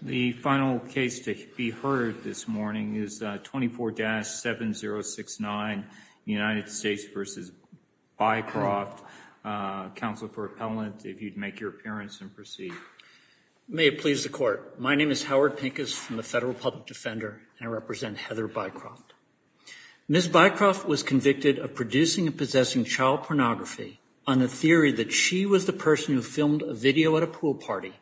The final case to be heard this morning is 24-7069 United States v. Bycroft. Counsel for appellant, if you'd make your appearance and proceed. May it please the court. My name is Howard Pincus from the Federal Public Defender and I represent Heather Bycroft. Ms. Bycroft was convicted of producing and possessing child pornography on the theory that she was the person who filmed a video at a pool party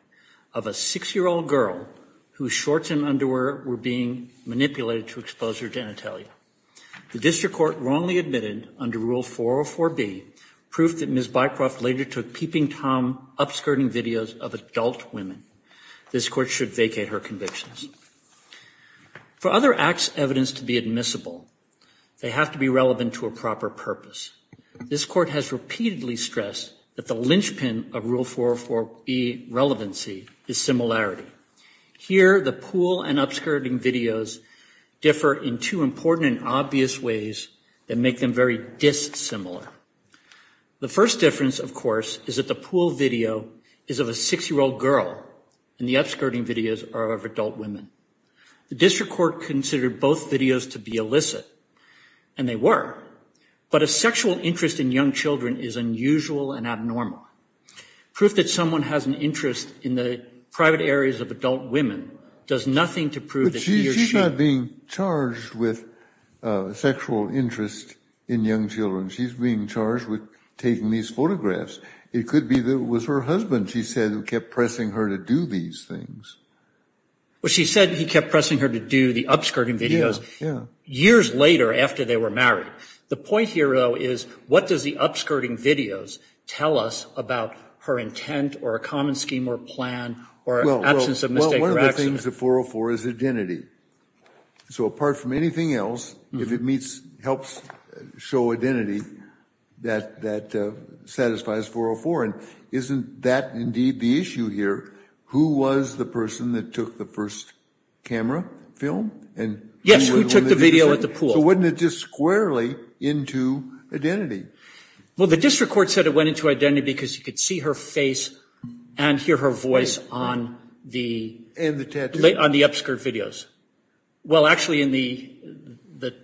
of a six-year-old girl whose shorts and underwear were being manipulated to expose her genitalia. The district court wrongly admitted under Rule 404b proof that Ms. Bycroft later took peeping tom upskirting videos of adult women. This court should vacate her convictions. For other acts' evidence to be admissible, they have to be relevant to a proper purpose. This court has repeatedly stressed that the linchpin of Rule 404b relevancy is similarity. Here, the pool and upskirting videos differ in two important and obvious ways that make them very dissimilar. The first difference, of course, is that the pool video is of a six-year-old girl and the upskirting videos are of adult women. The district court considered both videos to be illicit, and they were, but a sexual interest in young children is unusual and abnormal. Proof that someone has an interest in the private areas of adult women does nothing to prove that he or she... But she's not being charged with sexual interest in young children. She's being charged with taking these photographs. It could be that it was her husband, she said, who kept pressing her to do these things. Well, she said he kept pressing her to do the upskirting videos years later after they were married. The point here, though, is what does the upskirting videos tell us about her intent or a common scheme or plan or absence of mistake or accident? Well, one of the things of 404 is identity. So apart from anything else, if it meets, helps show identity, that satisfies 404. And isn't that indeed the issue here? Who was the person that took the first camera film? Yes, who took the video at the pool. So wasn't it just squarely into identity? Well, the district court said it went into identity because you could see her face and hear her voice on the upskirt videos. Well, actually in the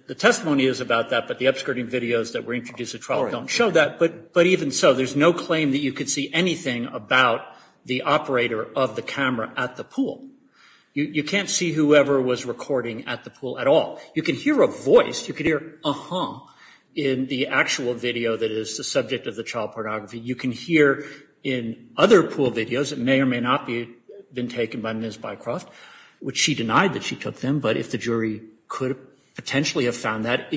the testimony is about that, but the upskirting videos that were introduced at trial don't show that. But even so, there's no claim that you could see anything about the operator of the camera at the pool. You can't see whoever was recording at the pool at all. You can hear a voice. You could hear a hum in the actual video that is the subject of the child pornography. You can hear in other pool videos that may or may not be been taken by Ms. Bycroft, which she denied that she took them. But if the jury could potentially have found that,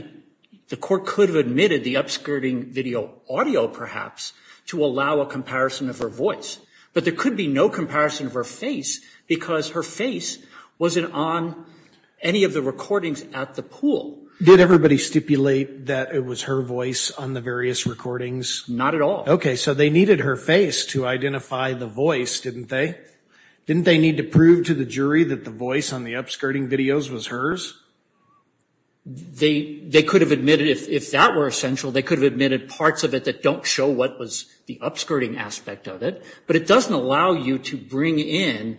the court could have admitted the upskirting video audio perhaps to allow a comparison of her voice. But there could be no comparison of her face because her face wasn't on any of the recordings at the pool. Did everybody stipulate that it was her voice on the various recordings? Not at all. Okay, so they needed her face to identify the voice, didn't they? Didn't they need to prove to the jury that the voice on the upskirting videos was hers? They could have admitted if that were essential, they could have admitted parts of it that don't show what was the upskirting aspect of it. But it doesn't allow you to bring in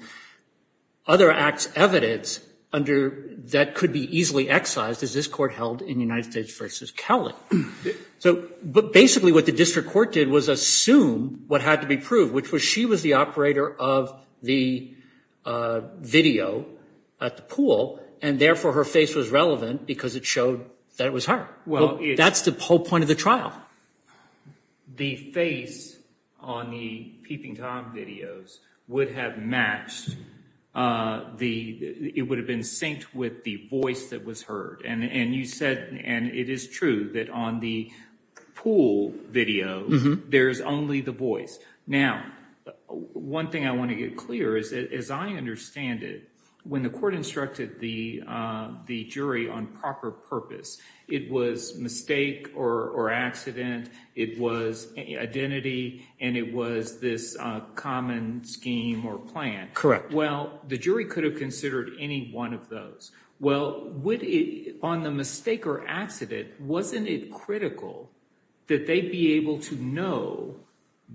other acts evidence under that could be easily excised as this court held in United States v. Kelly. So, but basically what the district court did was assume what had to be proved, which was she was the operator of the video at the pool, and therefore her face was relevant because it showed that it was her. Well, that's the whole point of the trial. The face on the peeping Tom videos would have matched, it would have been synced with the voice that was heard. And you said, and it is true that on the pool video, there's only the voice. Now, one thing I want to get clear is, as I understand it, when the court instructed the jury on proper purpose, it was mistake or accident, it was identity, and it was this common scheme or plan. Correct. Well, the jury could have wasn't it critical that they be able to know,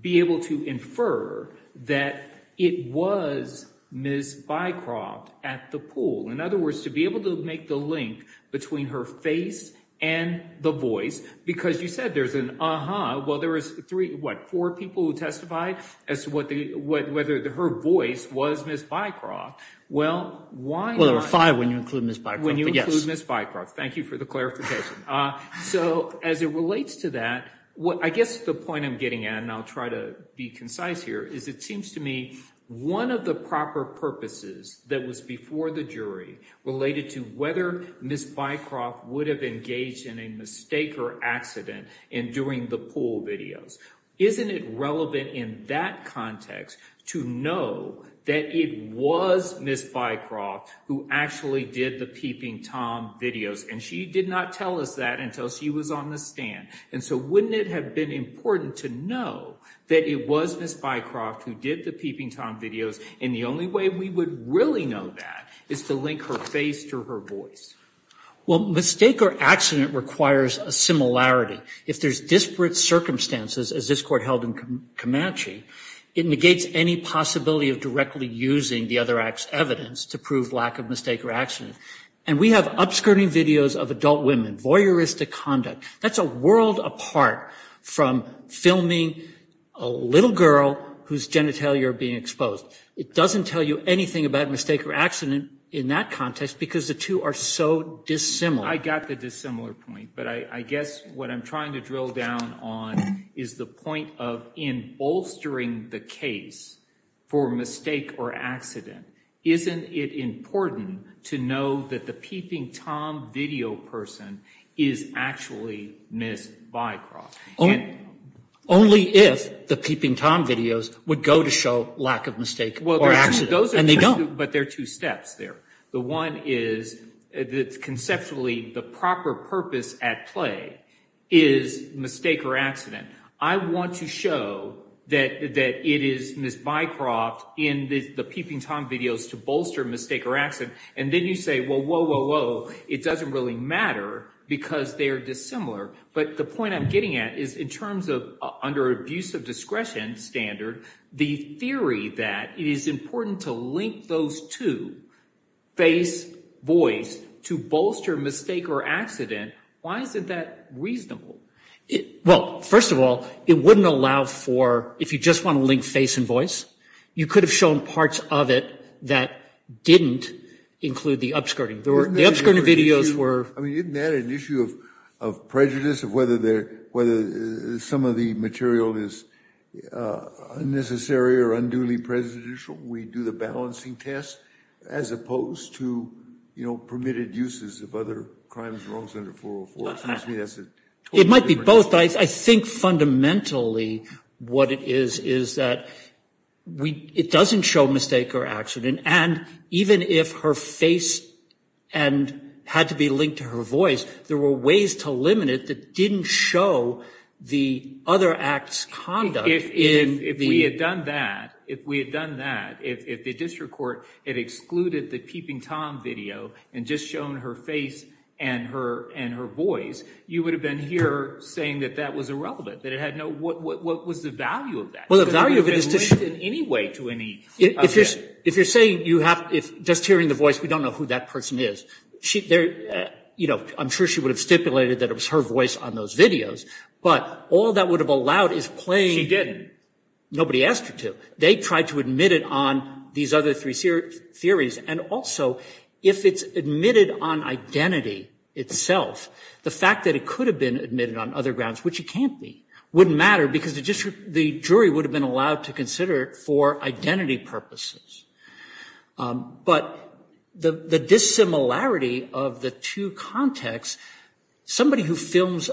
be able to infer that it was Ms. Bycroft at the pool? In other words, to be able to make the link between her face and the voice, because you said there's an, uh-huh, well, there was three, what, four people who testified as to whether her voice was Ms. Bycroft. Well, why not? Well, there were five when you include Ms. Bycroft. When you include Ms. Bycroft. Thank you for the clarification. So, as it relates to that, I guess the point I'm getting at, and I'll try to be concise here, is it seems to me one of the proper purposes that was before the jury related to whether Ms. Bycroft would have engaged in a mistake or accident in doing the pool videos. Isn't it relevant in that context to know that it was Ms. Bycroft who actually did the peeping Tom videos, and she did not tell us that until she was on the stand? And so, wouldn't it have been important to know that it was Ms. Bycroft who did the peeping Tom videos, and the only way we would really know that is to link her face to her voice? Well, mistake or accident requires a similarity. If there's disparate circumstances, as this Court held in Comanche, it negates any possibility of directly using the other act's evidence to prove lack of mistake or accident. And we have upskirting videos of adult women, voyeuristic conduct. That's a world apart from filming a little girl whose genitalia are being exposed. It doesn't tell you anything about mistake or accident in that context because the two are so dissimilar. I got the dissimilar point, but I guess what I'm trying to drill down on is the point of in bolstering the case for mistake or accident, isn't it important to know that the peeping Tom video person is actually Ms. Bycroft? Only if the peeping Tom videos would go to show lack of the proper purpose at play is mistake or accident. I want to show that it is Ms. Bycroft in the peeping Tom videos to bolster mistake or accident. And then you say, well, whoa, whoa, whoa. It doesn't really matter because they are dissimilar. But the point I'm getting at is in terms of under abuse of discretion standard, the theory that it is important to link those two, face, voice, to bolster mistake or accident, why isn't that reasonable? Well, first of all, it wouldn't allow for, if you just want to link face and voice, you could have shown parts of it that didn't include the upskirting. The upskirting videos were... I mean, isn't that an issue of prejudice of whether some of the material is unnecessary or unduly prejudicial? We do the balancing test as opposed to permitted uses of other crimes and wrongs under 404. It might be both. I think fundamentally what it is, is that it doesn't show mistake or accident. And even if her face and had to be linked to her voice, there were ways to limit it that didn't show the other act's conduct. If we had done that, if we had done that, if the district court had excluded the peeping Tom video and just shown her face and her voice, you would have been here saying that that was irrelevant, that it had no... What was the value of that? Well, the value of it is to show... It wouldn't have been linked in any way to any... If you're saying you have... Just hearing the voice, we don't know who that person is. She... I'm sure she would have stipulated that it was her voice on those videos, but all that would have allowed is playing... She didn't. Nobody asked her to. They tried to admit it on these other three theories. And also, if it's admitted on identity itself, the fact that it could have been admitted on other grounds, which it can't be, wouldn't matter because the jury would have been allowed to consider it for identity purposes. But the dissimilarity of the two contexts, somebody who films,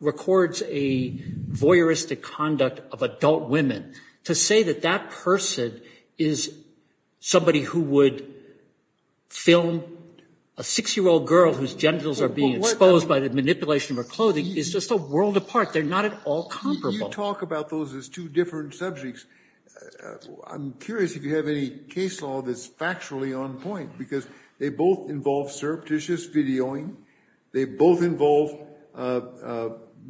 records a voyeuristic conduct of adult women, to say that that person is somebody who would film a six-year-old girl whose genitals are being exposed by the manipulation of her clothing is just a world apart. They're not at all comparable. You talk about those as two different subjects. I'm curious if you have any case law that's factually on point because they both involve surreptitious videoing. They both involve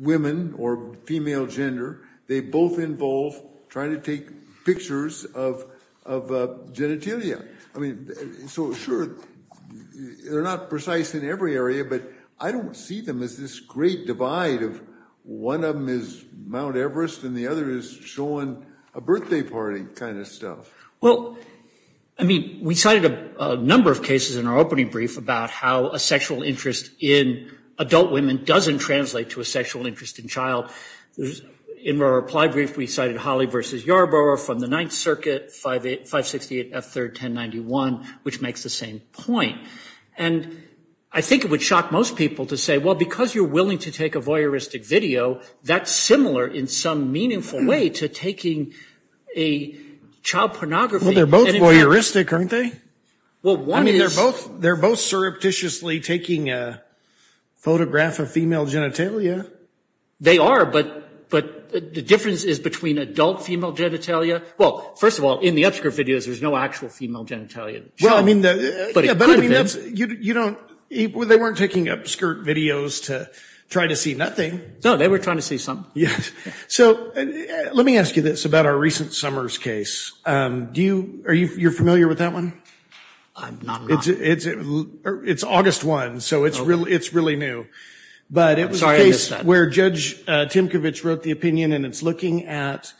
women or female gender. They both involve trying to take pictures of genitalia. I mean, so sure, they're not precise in every area, but I don't see them as this great divide of one of them is Mount Everest and the other is showing a birthday party kind of stuff. Well, I mean, we cited a number of cases in our opening brief about how a sexual interest in adult women doesn't translate to a sexual interest in child. In our reply brief, we cited Holly versus Yarborough from the Ninth Circuit, 568 F. 3rd, 1091, which makes the same point. And I think it would shock most people to say, well, because you're willing to take a voyeuristic video, that's similar in some meaningful way to taking a child pornography. Well, they're both voyeuristic, aren't they? Well, one is... I mean, they're both surreptitiously taking a photograph of female genitalia. They are, but the difference is between adult female genitalia. Well, first of all, in the upskirt videos, there's no actual female genitalia. Well, I mean, yeah, but I mean, you don't... They weren't taking upskirt videos to try to see nothing. No, they were trying to see something. Yes. So let me ask you this about our recent Summers case. Are you familiar with that one? I'm not. It's August 1, so it's really new. But it was a case where Judge Timkovich wrote the opinion, and it's looking at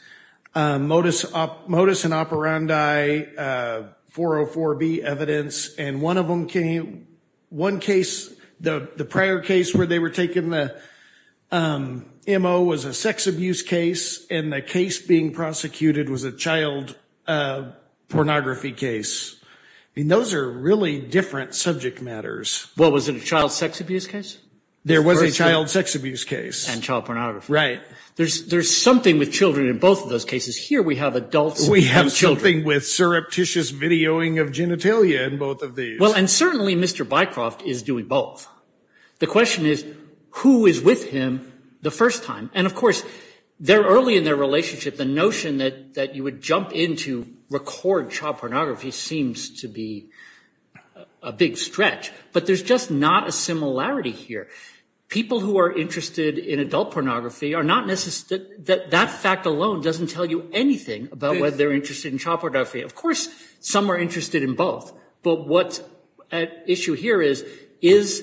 modus operandi 404B evidence, and one of them came... One case, the prior case where they were taking the MO was a sex abuse case, and the case being prosecuted was a child pornography case. I mean, those are really different subject matters. Well, was it a child sex abuse case? There was a child sex abuse case. And child pornography. Right. There's something with children in both of those cases. Here, we have adults and children. We have something with surreptitious videoing of genitalia in both of these. Well, and certainly, Mr. Bycroft is doing both. The question is, who is with him the first time? And of course, early in their relationship, the notion that you would jump into record child pornography seems to be a big stretch. But there's just not a similarity here. People who are interested in adult pornography are not necessarily... That fact alone doesn't tell you anything about whether they're interested in child pornography. Of course, some are interested in both. But what the issue here is, is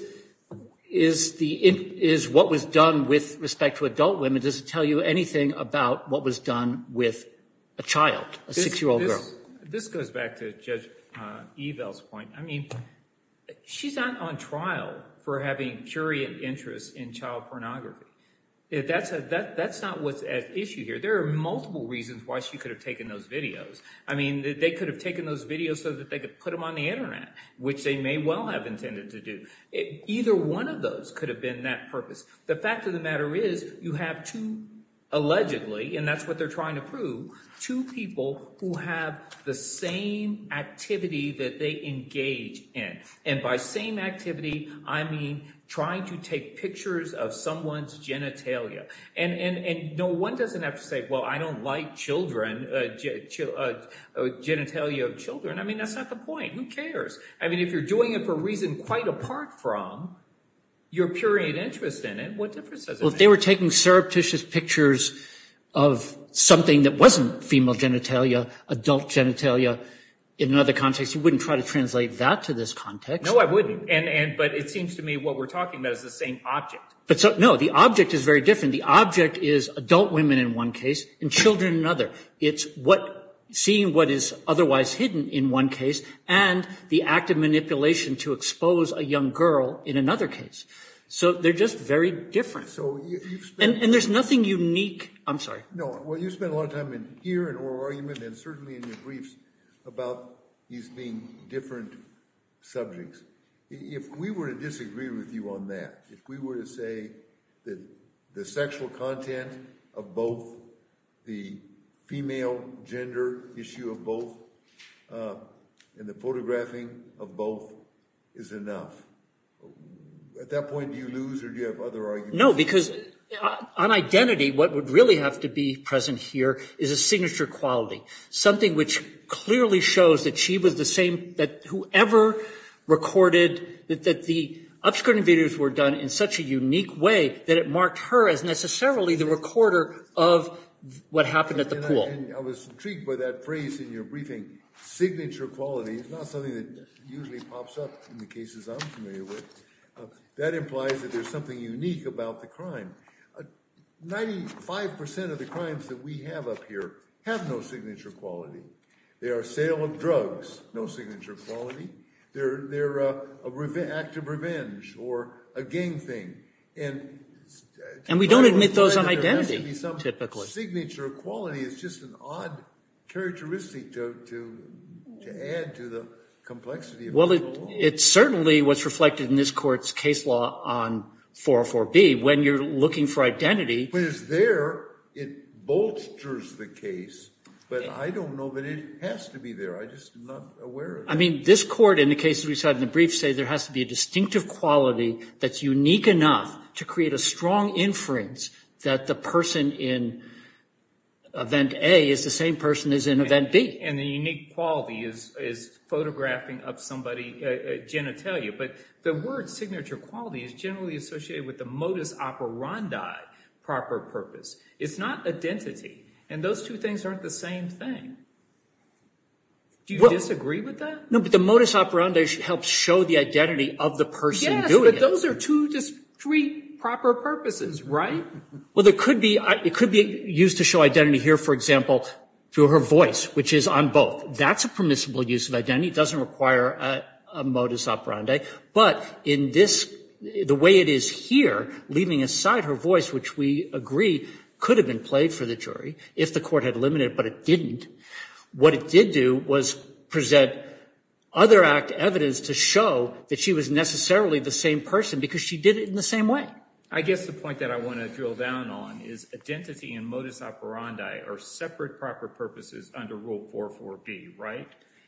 what was done with respect to adult women, does it tell you anything about what was done with a child, a six-year-old girl? This goes back to Judge Evel's point. I mean, she's not on trial for having curious interests in child pornography. That's not what's at issue here. There are multiple reasons why she could have taken those videos. I mean, they could have taken those videos so that they could put them on the internet, which they may well have intended to do. Either one of those could have been that purpose. The fact of the matter is, you have two, allegedly, and that's what they're trying to prove, two people who have the same activity that they engage in. And by same activity, I mean trying to take pictures of someone's genitalia. And no one doesn't have to say, well, I don't like genitalia of children. I mean, that's not the point. Who cares? I mean, if you're doing it for a reason quite apart from your period interest in it, what difference does it make? If they were taking surreptitious pictures of something that wasn't female genitalia, adult genitalia, in another context, you wouldn't try to translate that to this context. No, I wouldn't. But it seems to me what we're talking about is the same object. But no, the object is very different. The object is adult women in one case and children in another. It's seeing what is otherwise hidden in one case and the act of manipulation to expose a young girl in another case. So they're just very different. And there's nothing unique. I'm sorry. No. Well, you spent a lot of time in here and oral argument and certainly in your briefs about these being different subjects. If we were to disagree with you on that, if we were to say that the sexual content of both, the female gender issue of both, and the photographing of both is enough, at that point, do you lose or do you have other arguments? No, because on identity, what would really have to be present here is a signature quality, something which clearly shows that she was the same, that whoever recorded, that the obscuring videos were done in such a unique way that it marked her as necessarily the recorder of what happened at the pool. I was intrigued by that phrase in your briefing. Signature quality is not something that usually pops up in the cases I'm familiar with. That implies that there's something unique about the crime. Ninety-five percent of the crimes that we have up here have no signature quality. They are sale of drugs, no signature quality. They're an act of revenge or a gang thing. And we don't admit those on identity, typically. Signature quality is just an odd characteristic to add to the complexity. Well, it's certainly what's reflected in this court's case law on 404B, when you're looking for identity. When it's there, it bolsters the case, but I don't know that it has to be there. I just am not aware of it. I mean, this court, in the cases we saw in the brief, say there has to be a distinctive quality that's unique enough to create a strong inference that the person in event A is the same person as in event B. And the unique quality is photographing of somebody's genitalia. But the word signature quality is generally associated with the modus operandi, proper purpose. It's not identity. And those two things aren't the same thing. Do you disagree with that? No, but the modus operandi helps show the identity of the person doing it. Yes, but those are two, just three proper purposes, right? Well, it could be used to show identity here, for example, through her voice, which is on both. That's a permissible use of identity. It doesn't require a modus operandi. But in this, the way it is here, leaving aside her voice, which we agree could have been played for the jury if the court had limited it, but it didn't, what it did do was present other act evidence to show that she was necessarily the same person because she did it in the same way. I guess the point that I want to drill down on is identity and modus operandi are separate proper purposes under Rule 404B, right?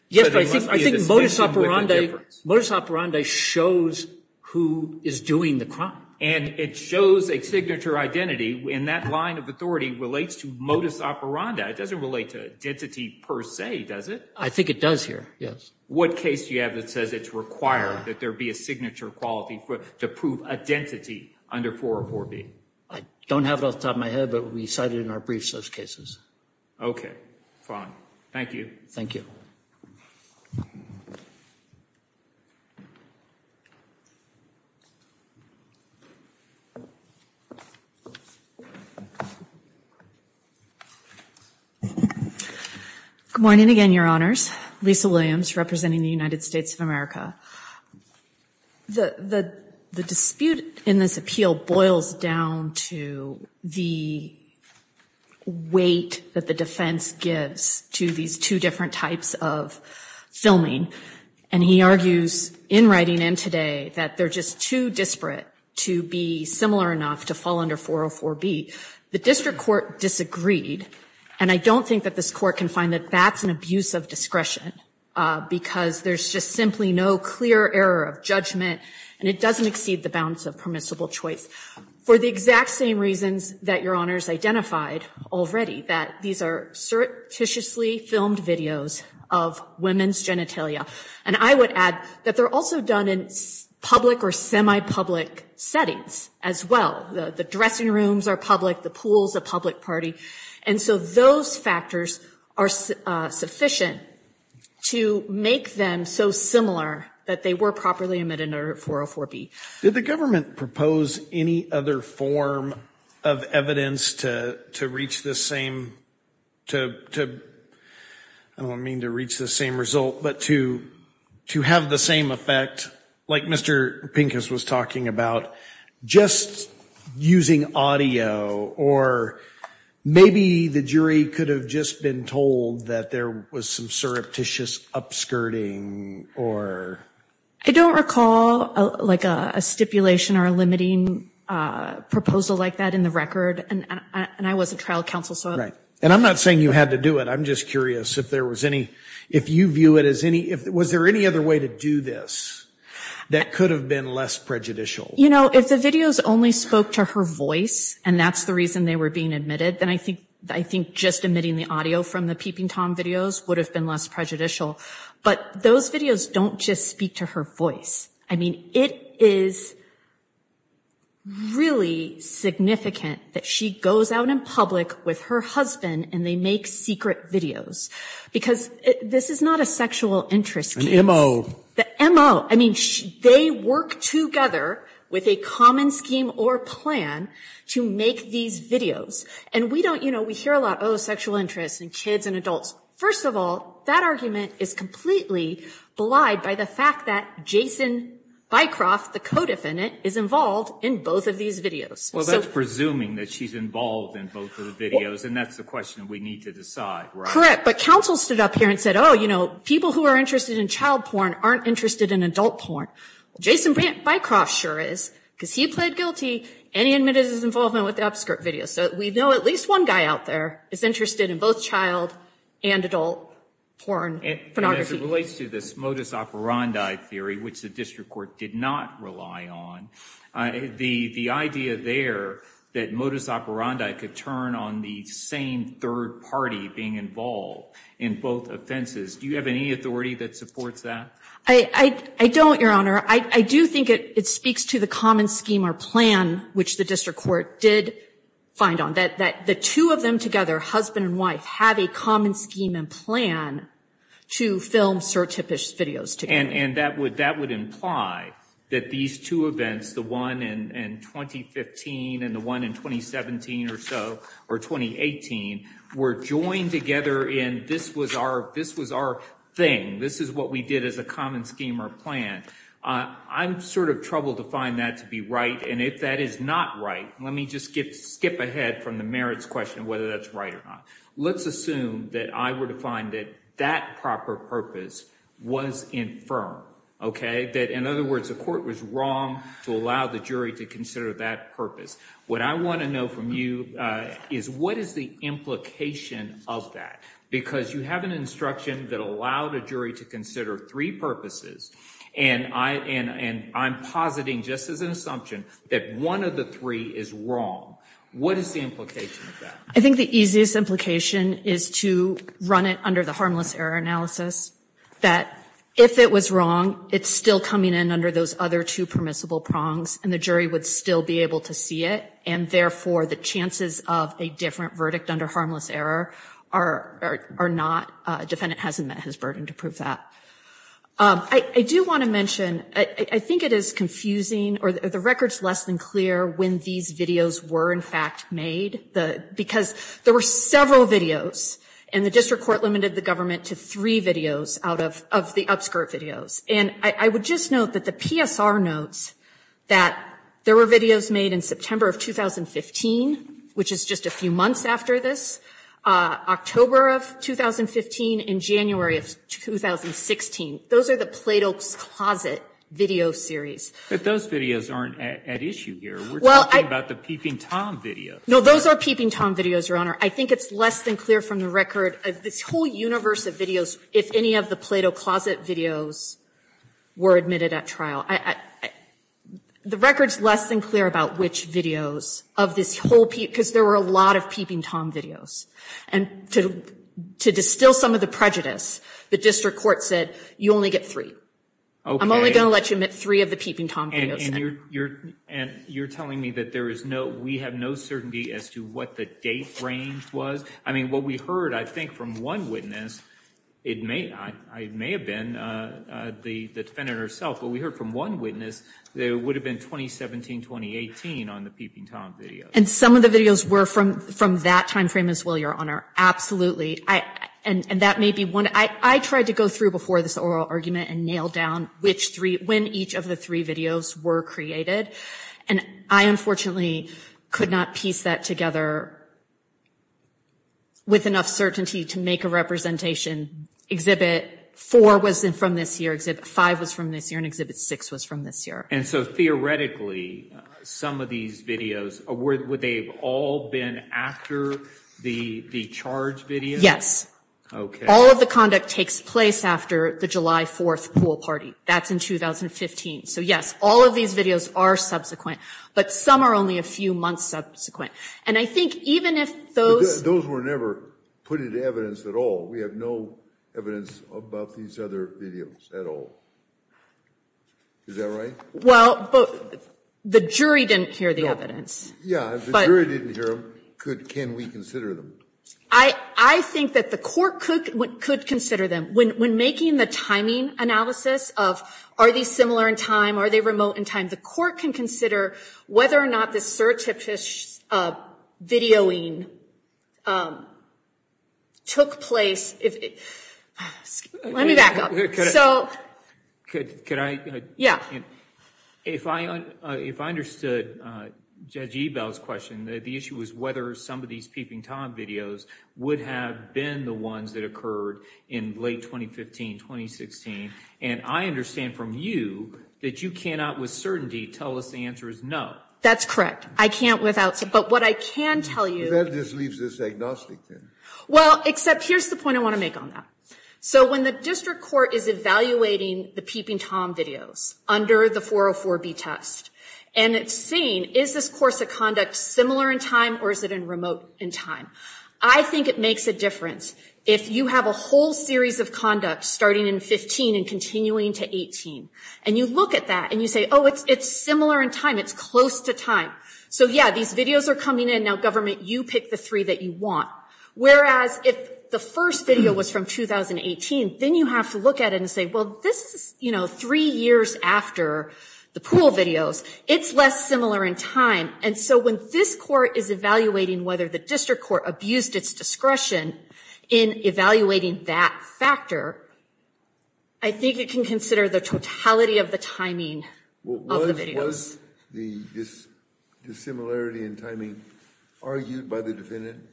Yes, but I think modus operandi shows who is doing the crime. And it shows a signature identity. And that line of authority relates to modus operandi. It doesn't relate to identity per se, does it? I think it does here, yes. What case do you have that says it's required that there be a signature quality to prove identity under 404B? I don't have it off the top of my head, but we cite it in our briefs, those cases. Okay, fine. Thank you. Thank you. Good morning again, Your Honors. Lisa Williams, representing the United States of America. The dispute in this appeal boils down to the weight that the defense gives to these two different types of filming. And he argues, in writing and today, that they're just too disparate to be similar enough to fall under 404B. The district court disagreed. And I don't think that this court can find that that's an abuse of discretion because there's just simply no clear error of judgment, and it doesn't exceed the bounds of permissible choice. For the exact same reasons that Your Honors identified already, that these are surreptitiously filmed videos of women's genitalia. And I would add that they're also done in public or semi-public settings as well. The dressing rooms are public. The pool's a public party. And so those factors are sufficient to make them so similar that they were properly omitted under 404B. Did the government propose any other form of evidence to reach the same... I don't mean to reach the same result, but to have the same effect, like Mr. Pincus was talking about, just using audio, or maybe the jury could have just been told that there was some surreptitious upskirting or... I don't recall a stipulation or a limiting proposal like that in the record. And I was a trial counsel, so... Right. And I'm not saying you had to do it. I'm just curious if there was any... If you view it as any... Was there any other way to do this that could have been less prejudicial? You know, if the videos only spoke to her voice, and that's the reason they were being omitted, then I think just omitting the audio from the Peeping Tom videos would have been less prejudicial. But those videos don't just speak to her voice. I mean, it is really significant that she goes out in public with her husband, and they make secret videos. Because this is not a sexual interest case. The M.O. I mean, they work together with a common scheme or plan to make these videos. And we don't, you know, we hear a lot, oh, sexual interests and kids and adults. First of all, that argument is completely belied by the fact that Jason Bycroft, the co-defendant, is involved in both of these videos. Well, that's presuming that she's involved in both of the videos, and that's the question we need to decide, right? Correct, but counsel stood up here and said, oh, you know, people who are interested in child porn aren't interested in adult porn. Well, Jason Bycroft sure is, because he pled guilty, and he admitted his involvement with the Upskirt videos. So we know at least one guy out there is interested in both child and adult porn pornography. As it relates to this modus operandi theory, which the district court did not rely on, the idea there that modus operandi could turn on the same third party being involved in both offenses, do you have any authority that supports that? I don't, Your Honor. I do think it speaks to the common scheme or plan which the district court did find on, that the two of them together, husband and wife, have a common scheme and plan to film certifished videos together. And that would imply that these two events, the one in 2015 and the one in 2017 or so, or 2018, were joined together in, this was our thing, this is what we did as a common scheme or plan. I'm sort of troubled to find that to be right, and if that is not right, let me just skip ahead from the merits question of whether that's right or not. Let's assume that I were to find that that proper purpose was infirm, okay? That, in other words, the court was wrong to allow the jury to consider that purpose. What I want to know from you is what is the implication of that? Because you have an instruction that allowed a jury to consider three purposes, and I'm positing, just as an assumption, that one of the three is wrong. What is the implication of that? I think the easiest implication is to run it under the harmless error analysis, that if it was wrong, it's still coming in under those other two permissible prongs, and the jury would still be able to see it, and therefore, the chances of a different verdict under harmless error are not, defendant hasn't met his burden to prove that. I do want to mention, I think it is confusing, or the record's less than clear when these videos were, in fact, made, because there were several videos, and the district court limited the government to three videos out of the upskirt videos, and I would just note that the PSR notes that there were videos made in September of 2015, which is just a few months after this, October of 2015 and January of 2016. Those are the Plato's Closet video series. But those videos aren't at issue here. We're talking about the Peeping Tom videos. No, those are Peeping Tom videos, Your Honor. I think it's less than clear from the record, this whole universe of videos, if any of the Plato's Closet videos were admitted at trial. The record's less than clear about which videos of this whole, because there were a lot of Peeping Tom videos. And to distill some of the prejudice, the district court said, you only get three. Okay. I'm only going to let you admit three of the Peeping Tom videos. And you're telling me that there is no, we have no certainty as to what the date range was? I mean, what we heard, I think, from one witness, it may, I may have been the defendant herself, but we heard from one witness, that it would have been 2017, 2018 on the Peeping Tom videos. And some of the videos were from that time frame as well, Your Honor, absolutely. And that may be one, I tried to go through before this oral argument and nailed down which three, when each of the three videos were created. And I, unfortunately, could not piece that together with enough certainty to make a representation. Exhibit four was from this year, five was from this year, and exhibit six was from this year. And so theoretically, some of these videos, would they have all been after the charge video? Yes. All of the conduct takes place after the July 4th pool party. That's in 2015. So yes, all of these videos are subsequent, but some are only a few months subsequent. And I think even if those... Those were never put into evidence at all. We have no evidence about these other videos at all. Is that right? Well, but the jury didn't hear the evidence. Yeah, the jury didn't hear them. Could, can we consider them? I think that the court could consider them. When making the timing analysis of, are these similar in time? Are they remote in time? The court can consider whether or not the search of his videoing took place. Let me back up. Could I? Yeah. If I understood Judge Ebel's question, the issue was whether some of these peeping Tom videos would have been the ones that occurred in late 2015, 2016. And I understand from you that you cannot with certainty tell us the answer is no. That's correct. I can't without... But what I can tell you... That just leaves this agnostic then. Well, except here's the point I want to make on that. So when the district court is evaluating the peeping Tom videos under the 404B test and it's seen, is this course of conduct similar in time or is it in remote in time? I think it makes a difference if you have a whole series of conduct starting in 15 and continuing to 18. And you look at that and you say, oh, it's similar in time. It's close to time. So yeah, these videos are coming in. Now, government, you pick the three that you want. Whereas if the first video was from 2018, then you have to look at it and say, well, this is three years after the pool videos. It's less similar in time. And so when this court is evaluating whether the district court abused its discretion in evaluating that factor, I think it can consider the totality of the timing of the videos. Was the dissimilarity in timing argued by the defendant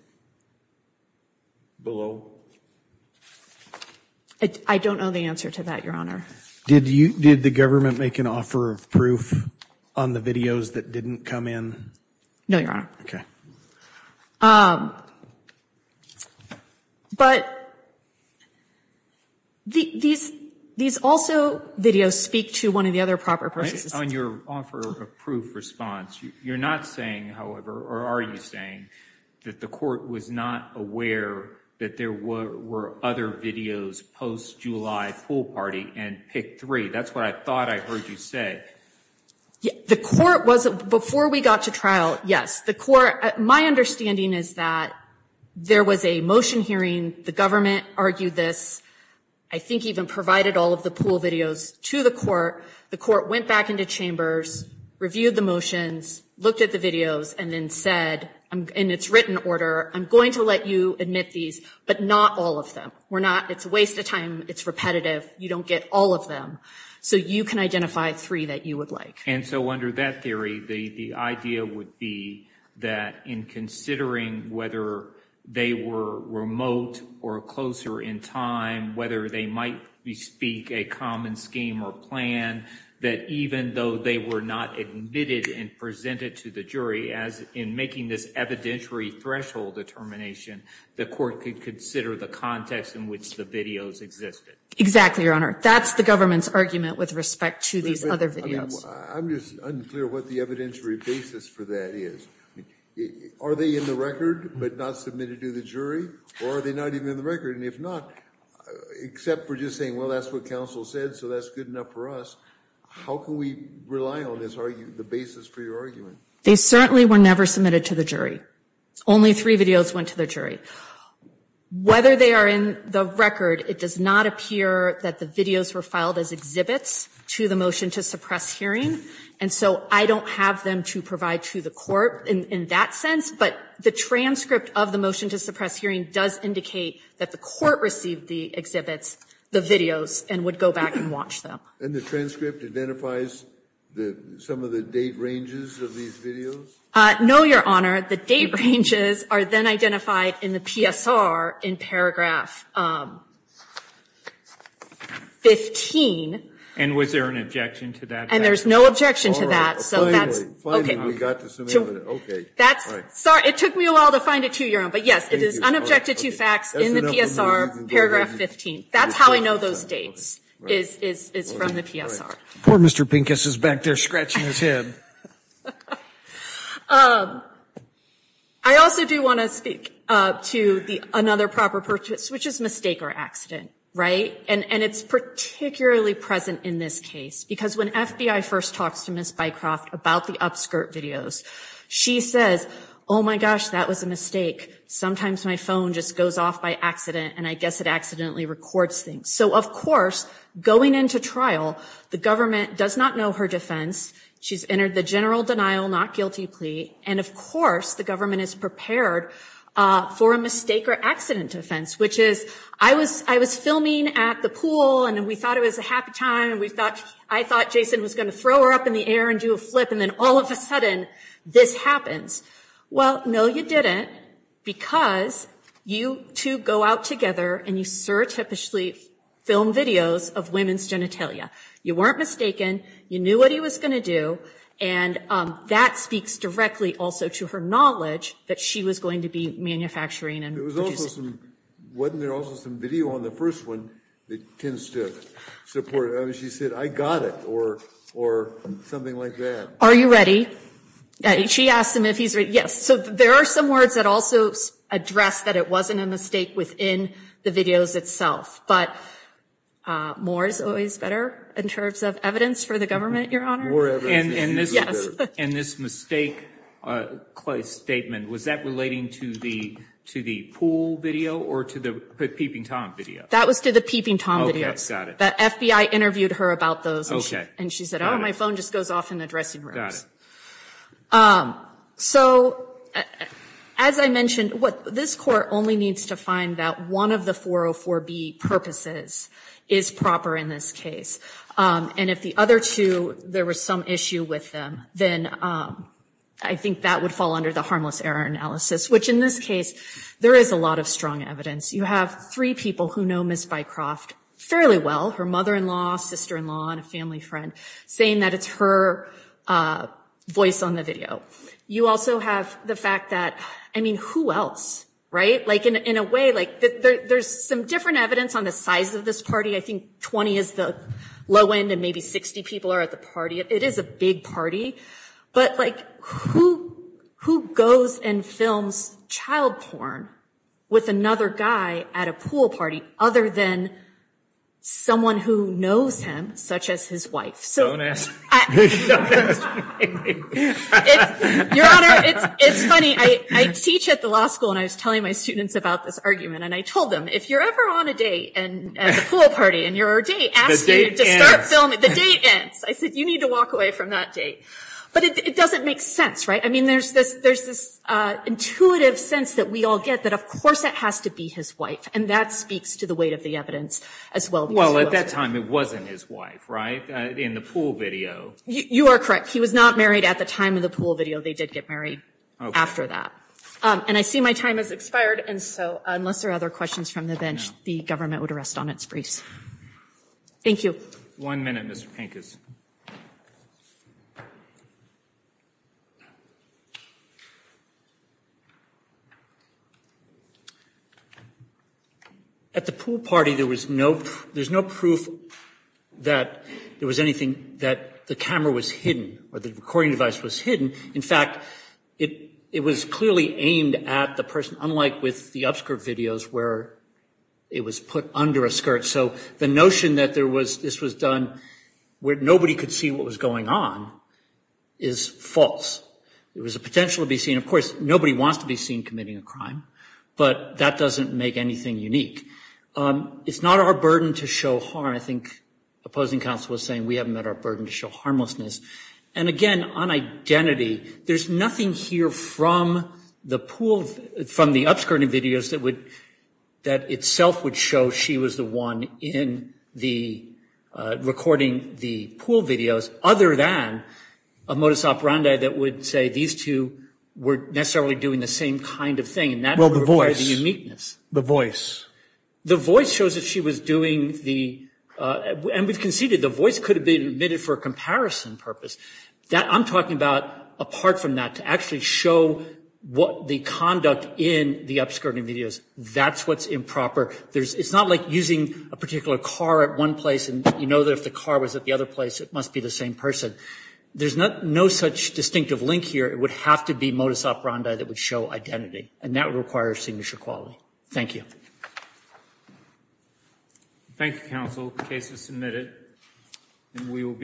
below? I don't know the answer to that, Your Honor. Did the government make an offer of proof on the videos that didn't come in? No, Your Honor. Okay. Um, but these also videos speak to one of the other proper processes. On your offer of proof response, you're not saying, however, or are you saying that the court was not aware that there were other videos post-July pool party and picked three? That's what I thought I heard you say. The court was, before we got to trial, yes. The court, my understanding is that there was a motion hearing. The government argued this. I think even provided all of the pool videos to the court. The court went back into chambers, reviewed the motions, looked at the videos, and then said, in its written order, I'm going to let you admit these, but not all of them. We're not, it's a waste of time. It's repetitive. You don't get all of them. So you can identify three that you would like. And so under that theory, the idea would be that in considering whether they were remote or closer in time, whether they might be speak a common scheme or plan that even though they were not admitted and presented to the jury as in making this evidentiary threshold determination, the court could consider the context in which the videos existed. Exactly, Your Honor. That's the government's argument with respect to these other videos. I'm just unclear what the evidentiary basis for that is. Are they in the record, but not submitted to the jury? Or are they not even in the record? And if not, except for just saying, well, that's what counsel said, so that's good enough for us. How can we rely on the basis for your argument? They certainly were never submitted to the jury. Only three videos went to the jury. Whether they are in the record, it does not appear that the videos were filed as exhibits to the motion to suppress hearing. So I don't have them to provide to the court in that sense. But the transcript of the motion to suppress hearing does indicate that the court received the exhibits, the videos, and would go back and watch them. And the transcript identifies some of the date ranges of these videos? No, Your Honor. The date ranges are then identified in the PSR in paragraph 15. And was there an objection to that? And there's no objection to that. So that's, okay. That's, sorry, it took me a while to find it too, Your Honor. But yes, it is unobjected to facts in the PSR, paragraph 15. That's how I know those dates is from the PSR. Poor Mr. Pincus is back there scratching his head. I also do want to speak to another proper purchase, which is mistake or accident, right? And it's particularly present in this case. Because when FBI first talks to Ms. Bycroft about the upskirt videos, she says, oh my gosh, that was a mistake. Sometimes my phone just goes off by accident and I guess it accidentally records things. So of course, going into trial, the government does not know her defense. She's entered the general denial, not guilty plea. And of course, the government is prepared for a mistake or accident offense, which is, I was filming at the pool and we thought it was a happy time. I thought Jason was going to throw her up in the air and do a flip and then all of a sudden, this happens. Well, no, you didn't. Because you two go out together and you surreptitiously film videos of women's genitalia. You weren't mistaken. You knew what he was going to do. And that speaks directly also to her knowledge that she was going to be manufacturing and producing. Wasn't there also some video on the first one that tends to support it? She said, I got it or something like that. Are you ready? She asked him if he's ready. Yes. So there are some words that also address that it wasn't a mistake within the videos itself. But more is always better in terms of evidence for the government, Your Honor. More evidence is usually better. And this mistake statement, was that relating to the pool video or to the Peeping Tom video? That was to the Peeping Tom video. Okay, got it. The FBI interviewed her about those. And she said, oh, my phone just goes off in the dressing rooms. So as I mentioned, this court only needs to find that one of the 404B purposes is proper in this case. And if the other two, there was some issue with them, then I think that would fall under the harmless error analysis, which in this case, there is a lot of strong evidence. You have three people who know Ms. Bycroft fairly well. Her mother-in-law, sister-in-law, and a family friend, saying that it's her voice on the video. You also have the fact that, I mean, who else, right? Like in a way, like there's some different evidence on the size of this party. I think 20 is the low end and maybe 60 people are at the party. It is a big party. But like who goes and films child porn with another guy at a pool party other than someone who knows him, such as his wife? So- Don't ask me. Don't ask me. Your Honor, it's funny. I teach at the law school and I was telling my students about this argument and I told them, if you're ever on a date and at the pool party and you're a date, ask you to start filming. The date ends. I said, you need to walk away from that date. But it doesn't make sense, right? I mean, there's this intuitive sense that we all get that of course it has to be his wife. And that speaks to the weight of the evidence as well. Well, at that time, it wasn't his wife, right? In the pool video. You are correct. He was not married at the time of the pool video. They did get married after that. And I see my time has expired. And so unless there are other questions from the bench, the government would rest on its briefs. Thank you. One minute, Mr. Pincus. At the pool party, there was no proof that there was anything that the camera was hidden or the recording device was hidden. In fact, it was clearly aimed at the person, unlike with the upskirt videos where it was put under a skirt. So the notion that this was done where nobody could see what was going on is false. There was a potential to be seen. Of course, nobody wants to be seen committing a crime. But that doesn't make anything unique. It's not our burden to show harm. I think opposing counsel was saying we haven't met our burden to show harmlessness. And again, on identity, there's nothing here from the upskirting videos that itself would show she was the one recording the pool videos, other than a modus operandi that would say these two were necessarily doing the same kind of thing. Well, the voice. And that would require the uniqueness. The voice. The voice shows that she was doing the... And we've conceded the voice could have been omitted for a comparison purpose. I'm talking about, apart from that, to actually show the conduct in the upskirting videos. That's what's improper. It's not like using a particular car at one place and you know that if the car was at the other place, it must be the same person. There's no such distinctive link here. It would have to be modus operandi that would show identity. And that would require a signature quality. Thank you. Thank you, counsel. The case is submitted. And we will be...